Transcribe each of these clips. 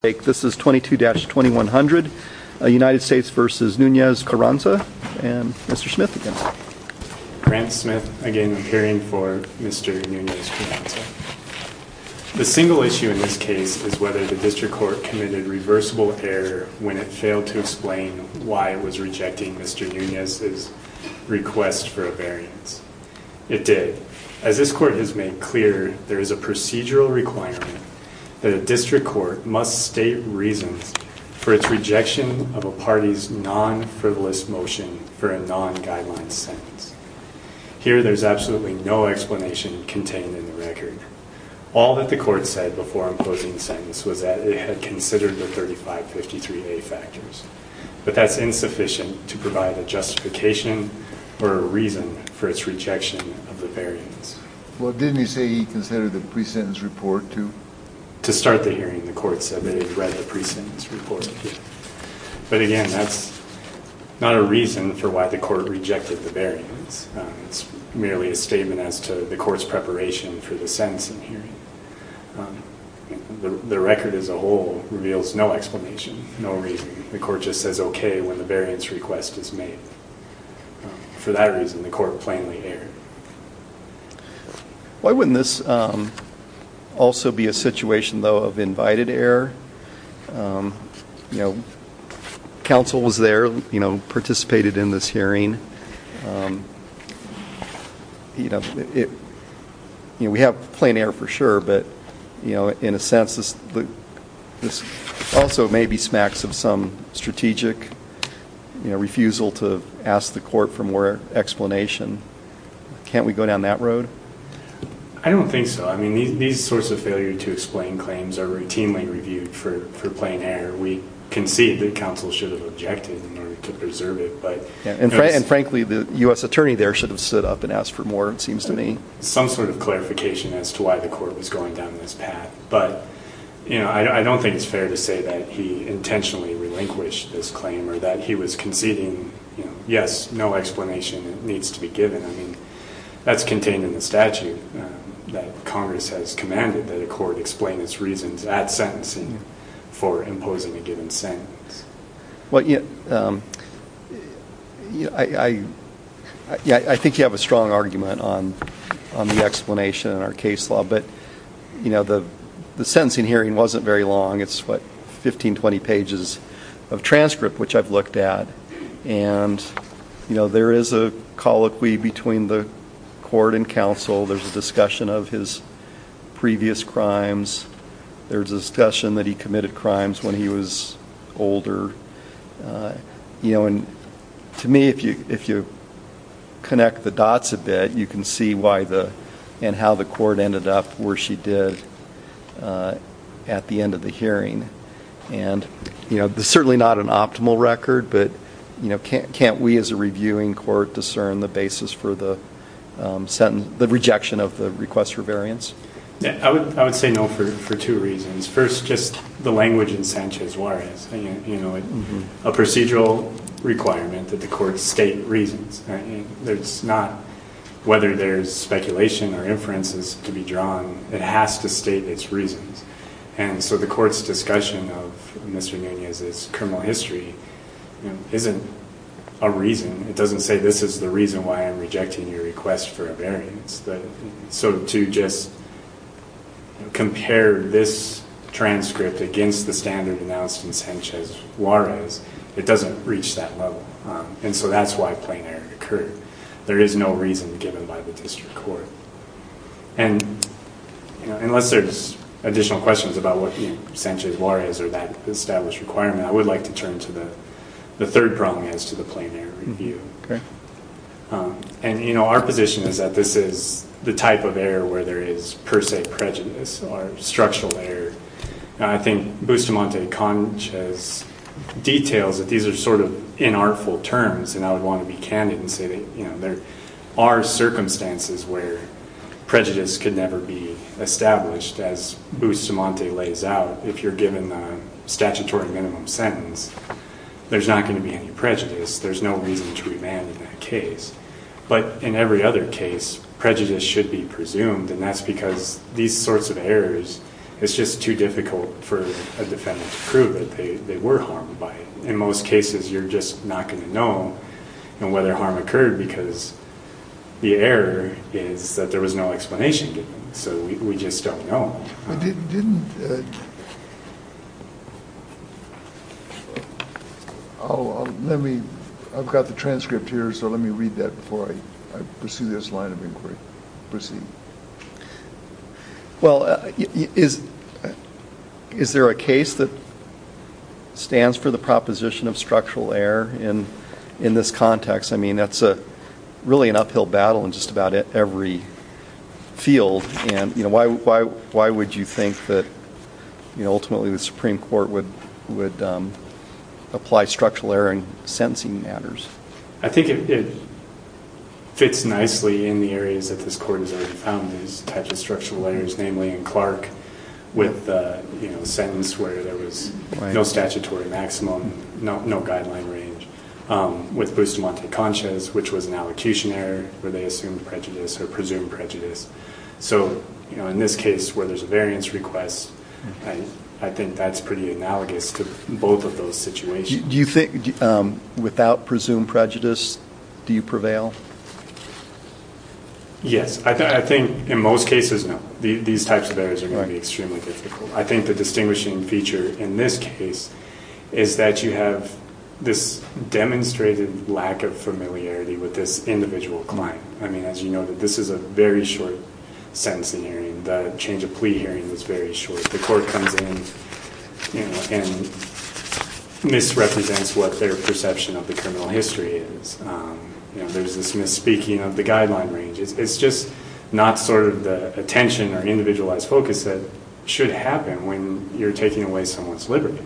This is 22-2100 United States v. Nunez-Carranza and Mr. Smith again. Grant Smith, again, hearing for Mr. Nunez-Carranza. The single issue in this case is whether the district court committed reversible error when it failed to explain why it was rejecting Mr. Nunez's request for a variance. It did. As this court has made clear, there is a procedural requirement that a district court must state reasons for its rejection of a party's non-frivolous motion for a non-guideline sentence. Here, there is absolutely no explanation contained in the record. All that the court said before imposing the sentence was that it had considered the 3553A factors. But that's insufficient to provide a justification or a reason for its rejection of the variance. Well, didn't he say he considered the pre-sentence report, too? To start the hearing, the court said that it had read the pre-sentence report. But again, that's not a reason for why the court rejected the variance. It's merely a statement as to the court's preparation for the sentencing hearing. The record as a whole reveals no explanation, no reason. The court just says okay when the variance request is made. For that reason, the court plainly erred. Why wouldn't this also be a situation, though, of invited error? You know, counsel was there, you know, participated in this hearing. You know, we have plain error for sure, but, you know, in a sense this also may be smacks of some strategic refusal to ask the court for more explanation. Can't we go down that road? I don't think so. I mean, these sorts of failure to explain claims are routinely reviewed for plain error. We concede that counsel should have objected in order to preserve it. And frankly, the U.S. attorney there should have stood up and asked for more, it seems to me. Some sort of clarification as to why the court was going down this path. But, you know, I don't think it's fair to say that he intentionally relinquished this claim or that he was conceding, you know, yes, no explanation needs to be given. I mean, that's contained in the statute that Congress has commanded that a court explain its reasons at sentencing for imposing a given sentence. Well, you know, I think you have a strong argument on the explanation in our case law. But, you know, the sentencing hearing wasn't very long. It's, what, 15, 20 pages of transcript, which I've looked at. And, you know, there is a colloquy between the court and counsel. There's a discussion of his previous crimes. There's a discussion that he committed crimes when he was older. You know, and to me, if you connect the dots a bit, you can see why the, and how the court ended up where she did at the end of the hearing. And, you know, there's certainly not an optimal record. But, you know, can't we as a reviewing court discern the basis for the sentence, the rejection of the request for variance? I would say no for two reasons. First, just the language in Sanchez-Juarez, you know, a procedural requirement that the court state reasons. There's not, whether there's speculation or inferences to be drawn, it has to state its reasons. And so the court's discussion of Mr. Nunez's criminal history isn't a reason. It doesn't say this is the reason why I'm rejecting your request for a variance. So to just compare this transcript against the standard announced in Sanchez-Juarez, it doesn't reach that level. And so that's why plain error occurred. There is no reason given by the district court. And, you know, unless there's additional questions about what Sanchez-Juarez or that established requirement, I would like to turn to the third problem as to the plain error review. And, you know, our position is that this is the type of error where there is per se prejudice or structural error. And I think Bustamante-Conch has details that these are sort of inartful terms, and I would want to be candid and say that, you know, there are circumstances where prejudice could never be established. As Bustamante lays out, if you're given a statutory minimum sentence, there's not going to be any prejudice. There's no reason to remand in that case. But in every other case, prejudice should be presumed, and that's because these sorts of errors, it's just too difficult for a defendant to prove that they were harmed by it. In most cases, you're just not going to know whether harm occurred because the error is that there was no explanation given. So we just don't know. I've got the transcript here, so let me read that before I pursue this line of inquiry. Well, is there a case that stands for the proposition of structural error in this context? I mean, that's really an uphill battle in just about every field. Why would you think that ultimately the Supreme Court would apply structural error in sentencing matters? I think it fits nicely in the areas that this Court has already found these types of structural errors, namely in Clark with the sentence where there was no statutory maximum, no guideline range, with Bustamante-Concha's, which was an allocution error where they assumed prejudice or presumed prejudice. So in this case where there's a variance request, I think that's pretty analogous to both of those situations. Do you think without presumed prejudice, do you prevail? Yes. I think in most cases, no. These types of errors are going to be extremely difficult. I think the distinguishing feature in this case is that you have this demonstrated lack of familiarity with this individual client. I mean, as you know, this is a very short sentencing hearing. The change of plea hearing was very short. The Court comes in and misrepresents what their perception of the criminal history is. There's this misspeaking of the guideline range. It's just not sort of the attention or individualized focus that should happen when you're taking away someone's liberty.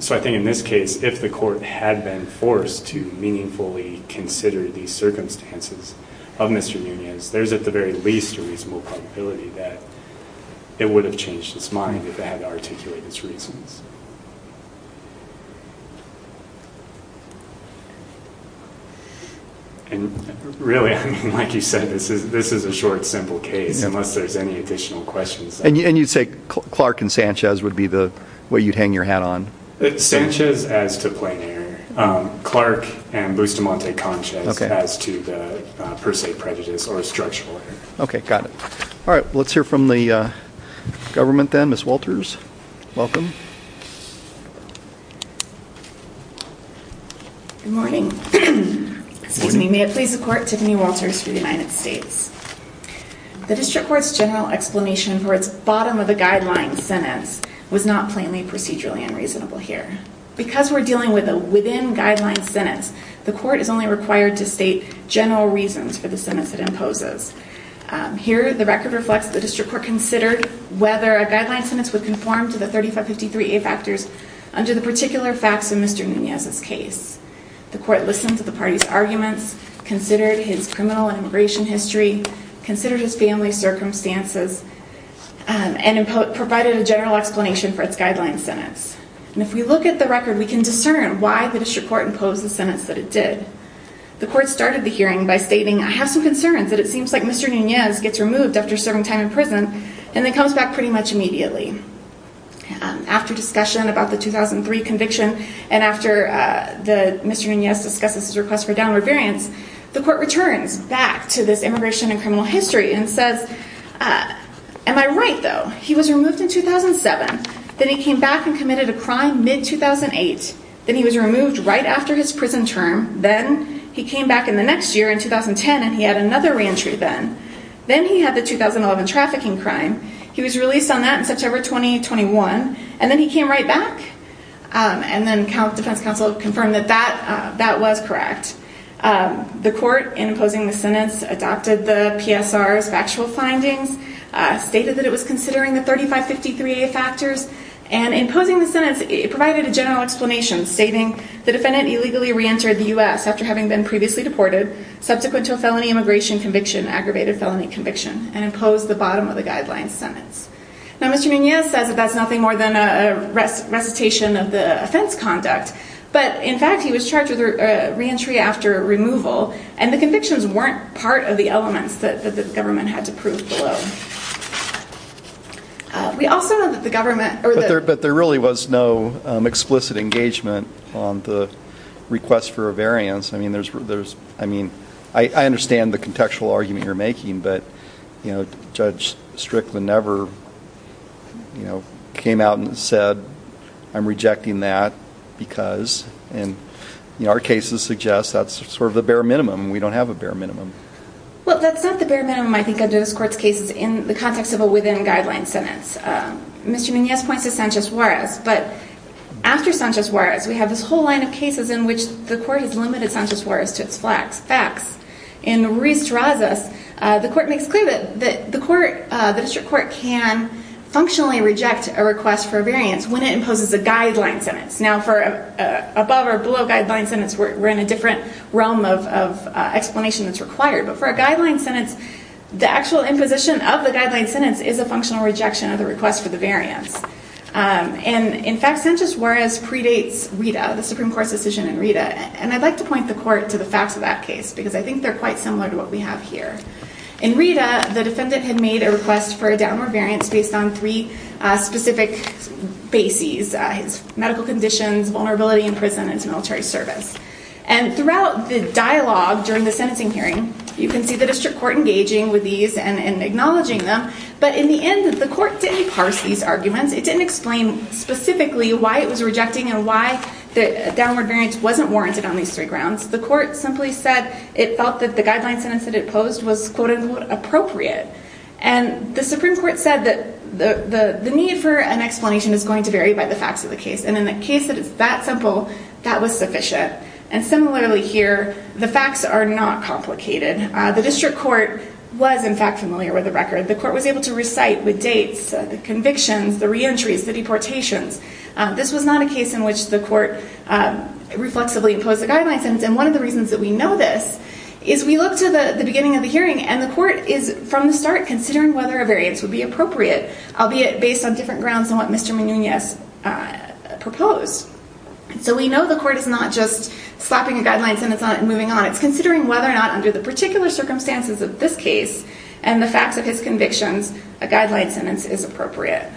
So I think in this case, if the Court had been forced to meaningfully consider these circumstances of Mr. Munoz, there's at the very least a reasonable probability that it would have changed its mind if it had to articulate its reasons. Really, like you said, this is a short, simple case, unless there's any additional questions. And you'd say Clark and Sanchez would be the way you'd hang your hat on? Sanchez as to plain error. Clark and Bustamante-Conchez as to the per se prejudice or structural error. Okay, got it. All right, let's hear from the government then. Ms. Walters, welcome. Good morning. May it please the Court, Tiffany Walters for the United States. The District Court's general explanation for its bottom-of-the-guideline sentence was not plainly procedurally unreasonable here. Because we're dealing with a within-guideline sentence, the Court is only required to state general reasons for the sentence it imposes. Here, the record reflects that the District Court considered whether a guideline sentence would conform to the 3553A factors under the particular facts in Mr. Munoz's case. The Court listened to the party's arguments, considered his criminal and immigration history, considered his family circumstances, and provided a general explanation for its guideline sentence. And if we look at the record, we can discern why the District Court imposed the sentence that it did. The Court started the hearing by stating, I have some concerns that it seems like Mr. Munoz gets removed after serving time in prison, and then comes back pretty much immediately. After discussion about the 2003 conviction, and after Mr. Munoz discusses his request for downward variance, the Court returns back to this immigration and criminal history and says, Am I right, though? He was removed in 2007. Then he came back and committed a crime mid-2008. Then he was removed right after his prison term. Then he came back in the next year, in 2010, and he had another re-entry then. Then he had the 2011 trafficking crime. He was released on that in September 2021. And then he came right back? And then Defense Counsel confirmed that that was correct. The Court, in imposing the sentence, adopted the PSR's factual findings, stated that it was considering the 3553A factors, and in imposing the sentence, it provided a general explanation, stating the defendant illegally re-entered the U.S. after having been previously deported, subsequent to a felony immigration conviction, aggravated felony conviction, and imposed the bottom of the guideline sentence. Now, Mr. Munoz says that that's nothing more than a recitation of the offense conduct. But, in fact, he was charged with re-entry after removal, and the convictions weren't part of the elements that the government had to prove below. But there really was no explicit engagement on the request for a variance. I understand the contextual argument you're making, but Judge Strickland never came out and said, I'm rejecting that because, and our cases suggest that's sort of the bare minimum. We don't have a bare minimum. Well, that's not the bare minimum, I think, under this Court's cases, in the context of a within-guideline sentence. Mr. Munoz points to Sanchez-Juarez, but after Sanchez-Juarez, we have this whole line of cases in which the Court has limited Sanchez-Juarez to its facts. And Ruiz draws us, the Court makes clear that the District Court can functionally reject a request for a variance when it imposes a guideline sentence. Now, for above- or below-guideline sentence, we're in a different realm of explanation that's required. But for a guideline sentence, the actual imposition of the guideline sentence is a functional rejection of the request for the variance. And, in fact, Sanchez-Juarez predates Rita, the Supreme Court's decision in Rita. And I'd like to point the Court to the facts of that case, because I think they're quite similar to what we have here. In Rita, the defendant had made a request for a downward variance based on three specific bases. His medical conditions, vulnerability in prison, and his military service. And throughout the dialogue during the sentencing hearing, you can see the District Court engaging with these and acknowledging them. But in the end, the Court didn't parse these arguments. It didn't explain specifically why it was rejecting and why the downward variance wasn't warranted on these three grounds. The Court simply said it felt that the guideline sentence that it posed was, quote-unquote, appropriate. And the Supreme Court said that the need for an explanation is going to vary by the facts of the case. And in a case that is that simple, that was sufficient. And similarly here, the facts are not complicated. The District Court was, in fact, familiar with the record. The Court was able to recite the dates, the convictions, the reentries, the deportations. This was not a case in which the Court reflexively imposed a guideline sentence. And one of the reasons that we know this is we look to the beginning of the hearing and the Court is, from the start, considering whether a variance would be appropriate, albeit based on different grounds than what Mr. Munoz proposed. So we know the Court is not just slapping a guideline sentence on it and moving on. It's considering whether or not, under the particular circumstances of this case and the facts of his convictions, a guideline sentence is appropriate.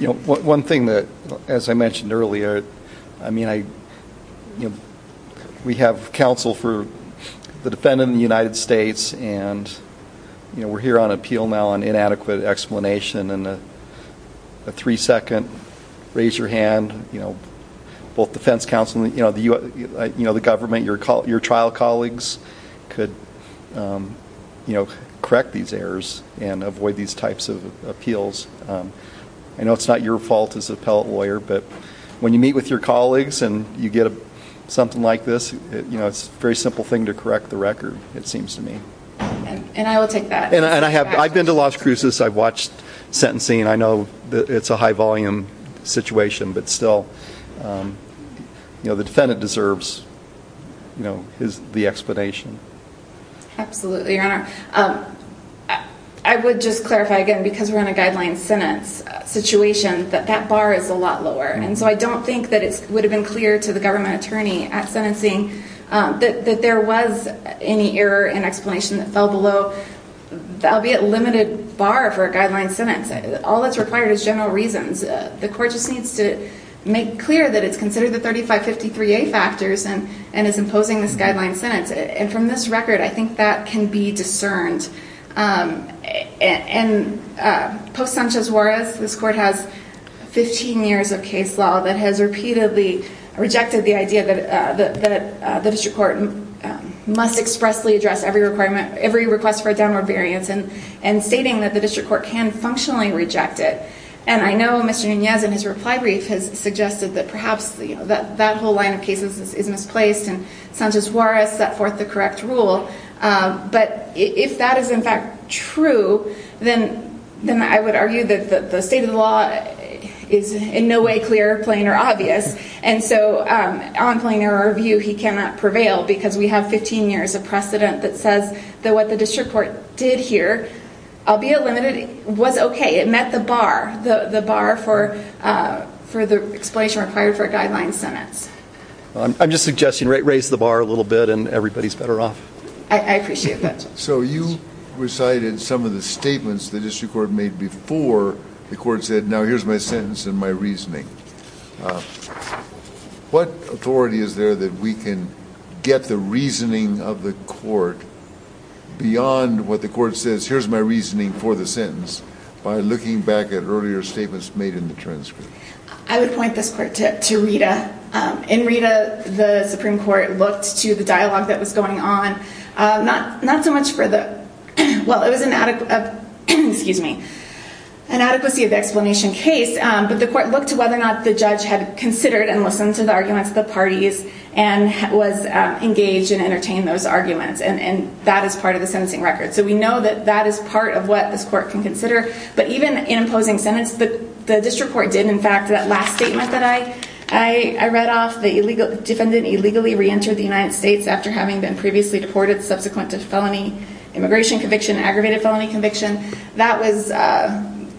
One thing that, as I mentioned earlier, we have counsel for the defendant in the United States and we're here on appeal now on inadequate explanation. In a three-second, raise your hand, both defense counsel and the government, your trial colleagues could correct these errors and avoid these types of appeals. I know it's not your fault as an appellate lawyer, but when you meet with your colleagues and you get something like this, it's a very simple thing to correct the record, it seems to me. And I will take that. And I've been to Las Cruces. I've watched sentencing. I know it's a high-volume situation, but still, the defendant deserves the explanation. Absolutely, Your Honor. I would just clarify again, because we're in a guideline sentence situation, that that bar is a lot lower. And so I don't think that it would have been clear to the government attorney at sentencing that there was any error in explanation that fell below, albeit limited bar for a guideline sentence. All that's required is general reasons. The court just needs to make clear that it's considered the 3553A factors and is imposing this guideline sentence. And from this record, I think that can be discerned. And post Sanchez-Juarez, this court has 15 years of case law that has repeatedly rejected the idea that the district court must expressly address every request for a downward variance, and stating that the district court can functionally reject it. And I know Mr. Nunez, in his reply brief, has suggested that perhaps that whole line of cases is misplaced and Sanchez-Juarez set forth the correct rule. But if that is, in fact, true, then I would argue that the state of the law is in no way clear, plain, or obvious. And so, on plain error of view, he cannot prevail because we have 15 years of precedent that says that what the district court did here, albeit limited, was okay. It met the bar, the bar for the explanation required for a guideline sentence. I'm just suggesting raise the bar a little bit and everybody's better off. I appreciate that. So you recited some of the statements the district court made before the court said, now here's my sentence and my reasoning. What authority is there that we can get the reasoning of the court beyond what the court says, here's my reasoning for the sentence, by looking back at earlier statements made in the transcript? I would point this court to Rita. In Rita, the Supreme Court looked to the dialogue that was going on. Not so much for the, well, it was an adequacy of explanation case, but the court looked to whether or not the judge had considered and listened to the arguments of the parties and was engaged and entertained those arguments. And that is part of the sentencing record. So we know that that is part of what this court can consider. But even in imposing sentence, the district court did, in fact, that last statement that I read off, the defendant illegally reentered the United States after having been previously deported subsequent to felony immigration conviction and aggravated felony conviction. That was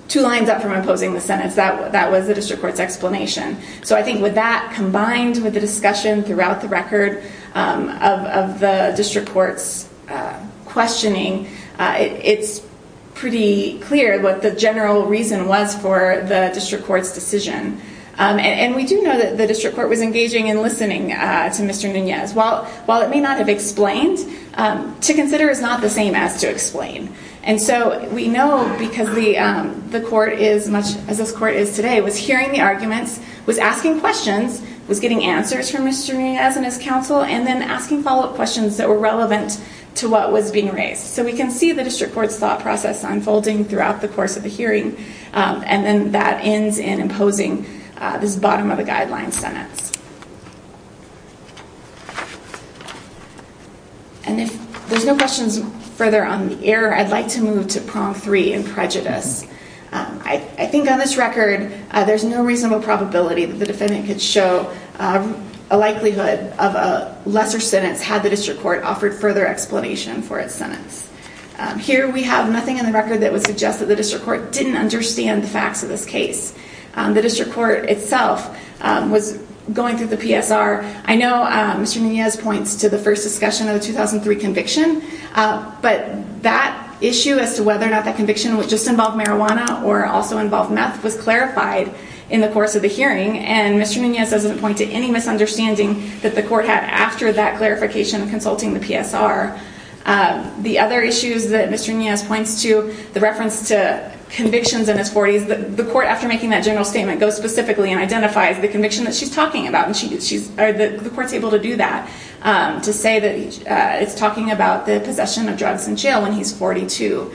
two lines up from imposing the sentence. That was the district court's explanation. So I think with that combined with the discussion throughout the record of the district court's questioning, it's pretty clear what the general reason was for the district court's decision. And we do know that the district court was engaging and listening to Mr. Nunez. While it may not have explained, to consider is not the same as to explain. And so we know because the court is, as this court is today, was hearing the arguments, was asking questions, was getting answers from Mr. Nunez and his counsel, and then asking follow-up questions that were relevant to what was being raised. So we can see the district court's thought process unfolding throughout the course of the hearing. And then that ends in imposing this bottom-of-the-guideline sentence. And if there's no questions further on the error, I'd like to move to prong three in prejudice. I think on this record, there's no reasonable probability that the defendant could show a likelihood of a lesser sentence had the district court offered further explanation for its sentence. Here we have nothing in the record that would suggest that the district court didn't understand the facts of this case. The district court itself was going through the PSR. I know Mr. Nunez points to the first discussion of the 2003 conviction, but that issue as to whether or not that conviction would just involve marijuana or also involve meth was clarified in the course of the hearing, and Mr. Nunez doesn't point to any misunderstanding that the court had after that clarification consulting the PSR. The other issues that Mr. Nunez points to, the reference to convictions in his 40s, the court, after making that general statement, goes specifically and identifies the conviction that she's talking about, and the court's able to do that, to say that it's talking about the possession of drugs in jail when he's 42.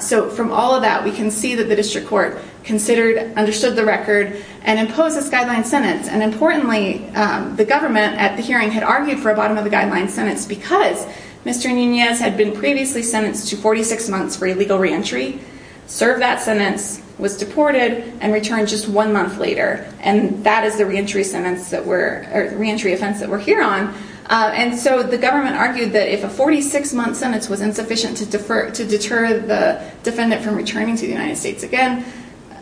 So from all of that, we can see that the district court considered, understood the record, and imposed this guideline sentence. And importantly, the government at the hearing had argued for a bottom-of-the-guideline sentence because Mr. Nunez had been previously sentenced to 46 months for illegal reentry, served that sentence, was deported, and returned just one month later. And that is the reentry offense that we're here on. And so the government argued that if a 46-month sentence was insufficient to deter the defendant from returning to the United States again,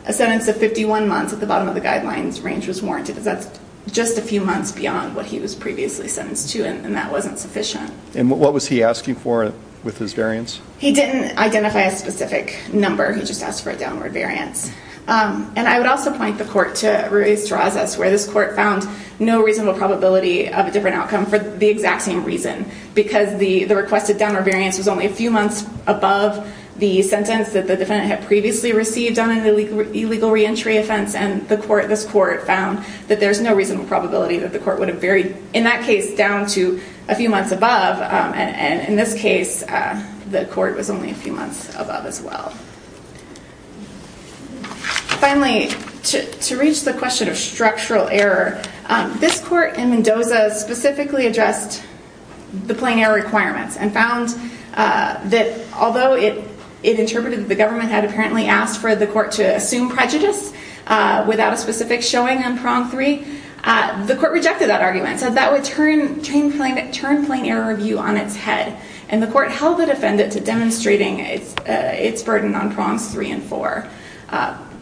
a sentence of 51 months at the bottom of the guidelines range was warranted, because that's just a few months beyond what he was previously sentenced to, and that wasn't sufficient. And what was he asking for with his variance? He didn't identify a specific number. He just asked for a downward variance. And I would also point the court to Ruiz-Giraz, that's where this court found no reasonable probability of a different outcome for the exact same reason, because the requested downward variance was only a few months above the sentence that the defendant had previously received done in the illegal reentry offense. And this court found that there's no reasonable probability that the court would have varied, in that case, down to a few months above. And in this case, the court was only a few months above as well. Finally, to reach the question of structural error, this court in Mendoza specifically addressed the plain error requirements and found that although it interpreted that the government had apparently asked for the court to assume prejudice without a specific showing on prong three, the court rejected that argument. So that would turn plain error review on its head, and the court held the defendant to demonstrating its burden on prongs three and four.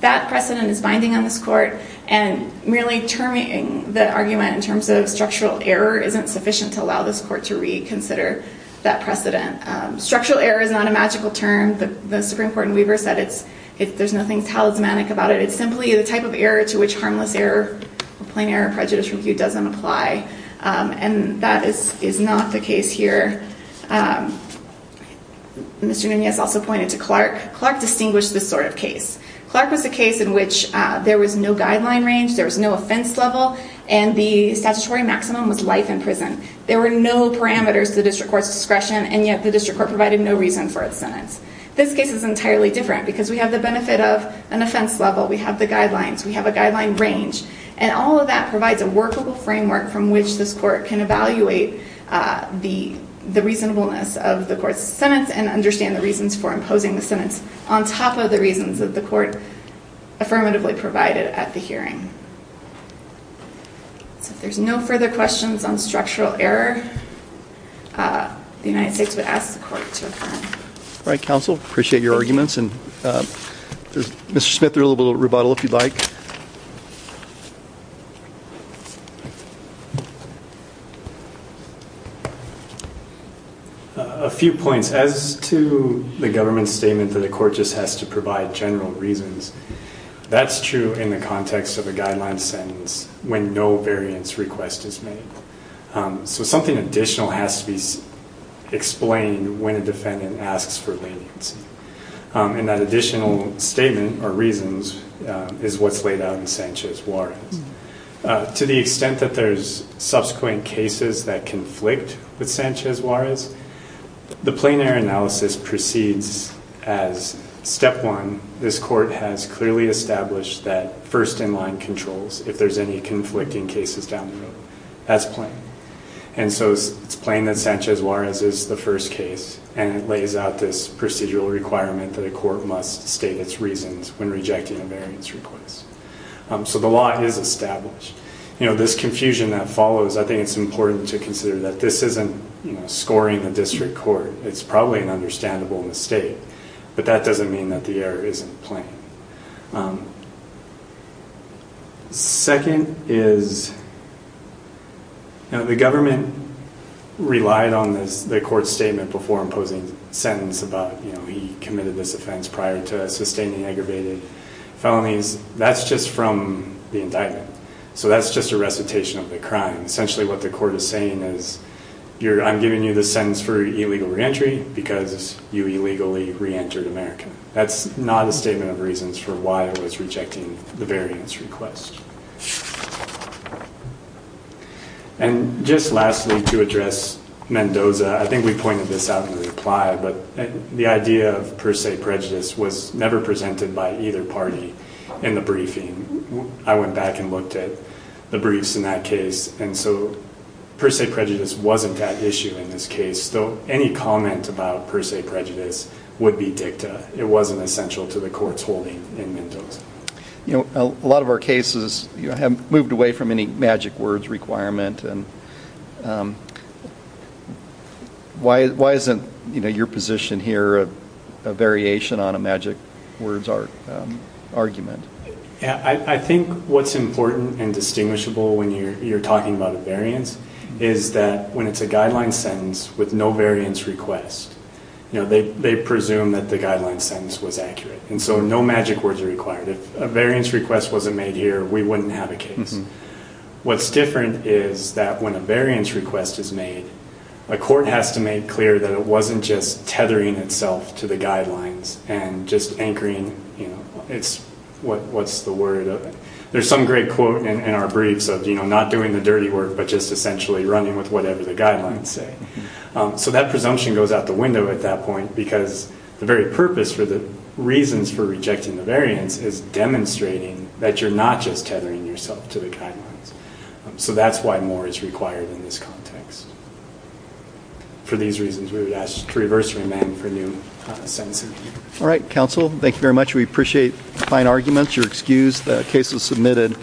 That precedent is binding on this court, and merely terming the argument in terms of structural error isn't sufficient to allow this court to reconsider that precedent. Structural error is not a magical term. The Supreme Court in Weaver said there's nothing talismanic about it. It's simply the type of error to which harmless error, plain error prejudice review doesn't apply. And that is not the case here. Mr. Nunez also pointed to Clark. Clark distinguished this sort of case. Clark was a case in which there was no guideline range, there was no offense level, and the statutory maximum was life in prison. There were no parameters to the district court's discretion, and yet the district court provided no reason for its sentence. This case is entirely different because we have the benefit of an offense level, we have the guidelines, we have a guideline range, and all of that provides a workable framework from which this court can evaluate the reasonableness of the court's sentence and understand the reasons for imposing the sentence on top of the reasons that the court affirmatively provided at the hearing. So if there's no further questions on structural error, the United States would ask the court to affirm. All right, counsel. Appreciate your arguments. And Mr. Smith, a little bit of rebuttal if you'd like. Thank you. A few points. As to the government's statement that the court just has to provide general reasons, that's true in the context of a guideline sentence when no variance request is made. So something additional has to be explained when a defendant asks for leniency. And that additional statement or reasons is what's laid out in Sanchez-Juarez. To the extent that there's subsequent cases that conflict with Sanchez-Juarez, the plain error analysis proceeds as step one, this court has clearly established that first in line controls if there's any conflicting cases down the road. That's plain. And so it's plain that Sanchez-Juarez is the first case and it lays out this procedural requirement that a court must state its reasons when rejecting a variance request. So the law is established. This confusion that follows, I think it's important to consider that this isn't scoring the district court. It's probably an understandable mistake, but that doesn't mean that the error isn't plain. Second is the government relied on the court's statement before imposing a sentence about he committed this offense prior to sustaining aggravated felonies. That's just from the indictment. So that's just a recitation of the crime. Essentially what the court is saying is, I'm giving you this sentence for illegal reentry because you illegally reentered America. That's not a statement of reasons for why it was rejecting the variance request. And just lastly, to address Mendoza, I think we pointed this out in reply, but the idea of per se prejudice was never presented by either party in the briefing. I went back and looked at the briefs in that case, and so per se prejudice wasn't that issue in this case, so any comment about per se prejudice would be dicta. It wasn't essential to the court's holding in Mendoza. A lot of our cases have moved away from any magic words requirement. Why isn't your position here a variation on a magic words argument? I think what's important and distinguishable when you're talking about a variance is that when it's a guideline sentence with no variance request, they presume that the guideline sentence was accurate, and so no magic words are required. If a variance request wasn't made here, we wouldn't have a case. What's different is that when a variance request is made, a court has to make clear that it wasn't just tethering itself to the guidelines and just anchoring what's the word of it. There's some great quote in our briefs of not doing the dirty work but just essentially running with whatever the guidelines say. So that presumption goes out the window at that point because the very purpose for the reasons for rejecting the variance is demonstrating that you're not just tethering yourself to the guidelines. So that's why more is required in this context. For these reasons, we would ask to reverse remain for new sentencing. All right, counsel, thank you very much. We appreciate fine arguments. You're excused. The case is submitted.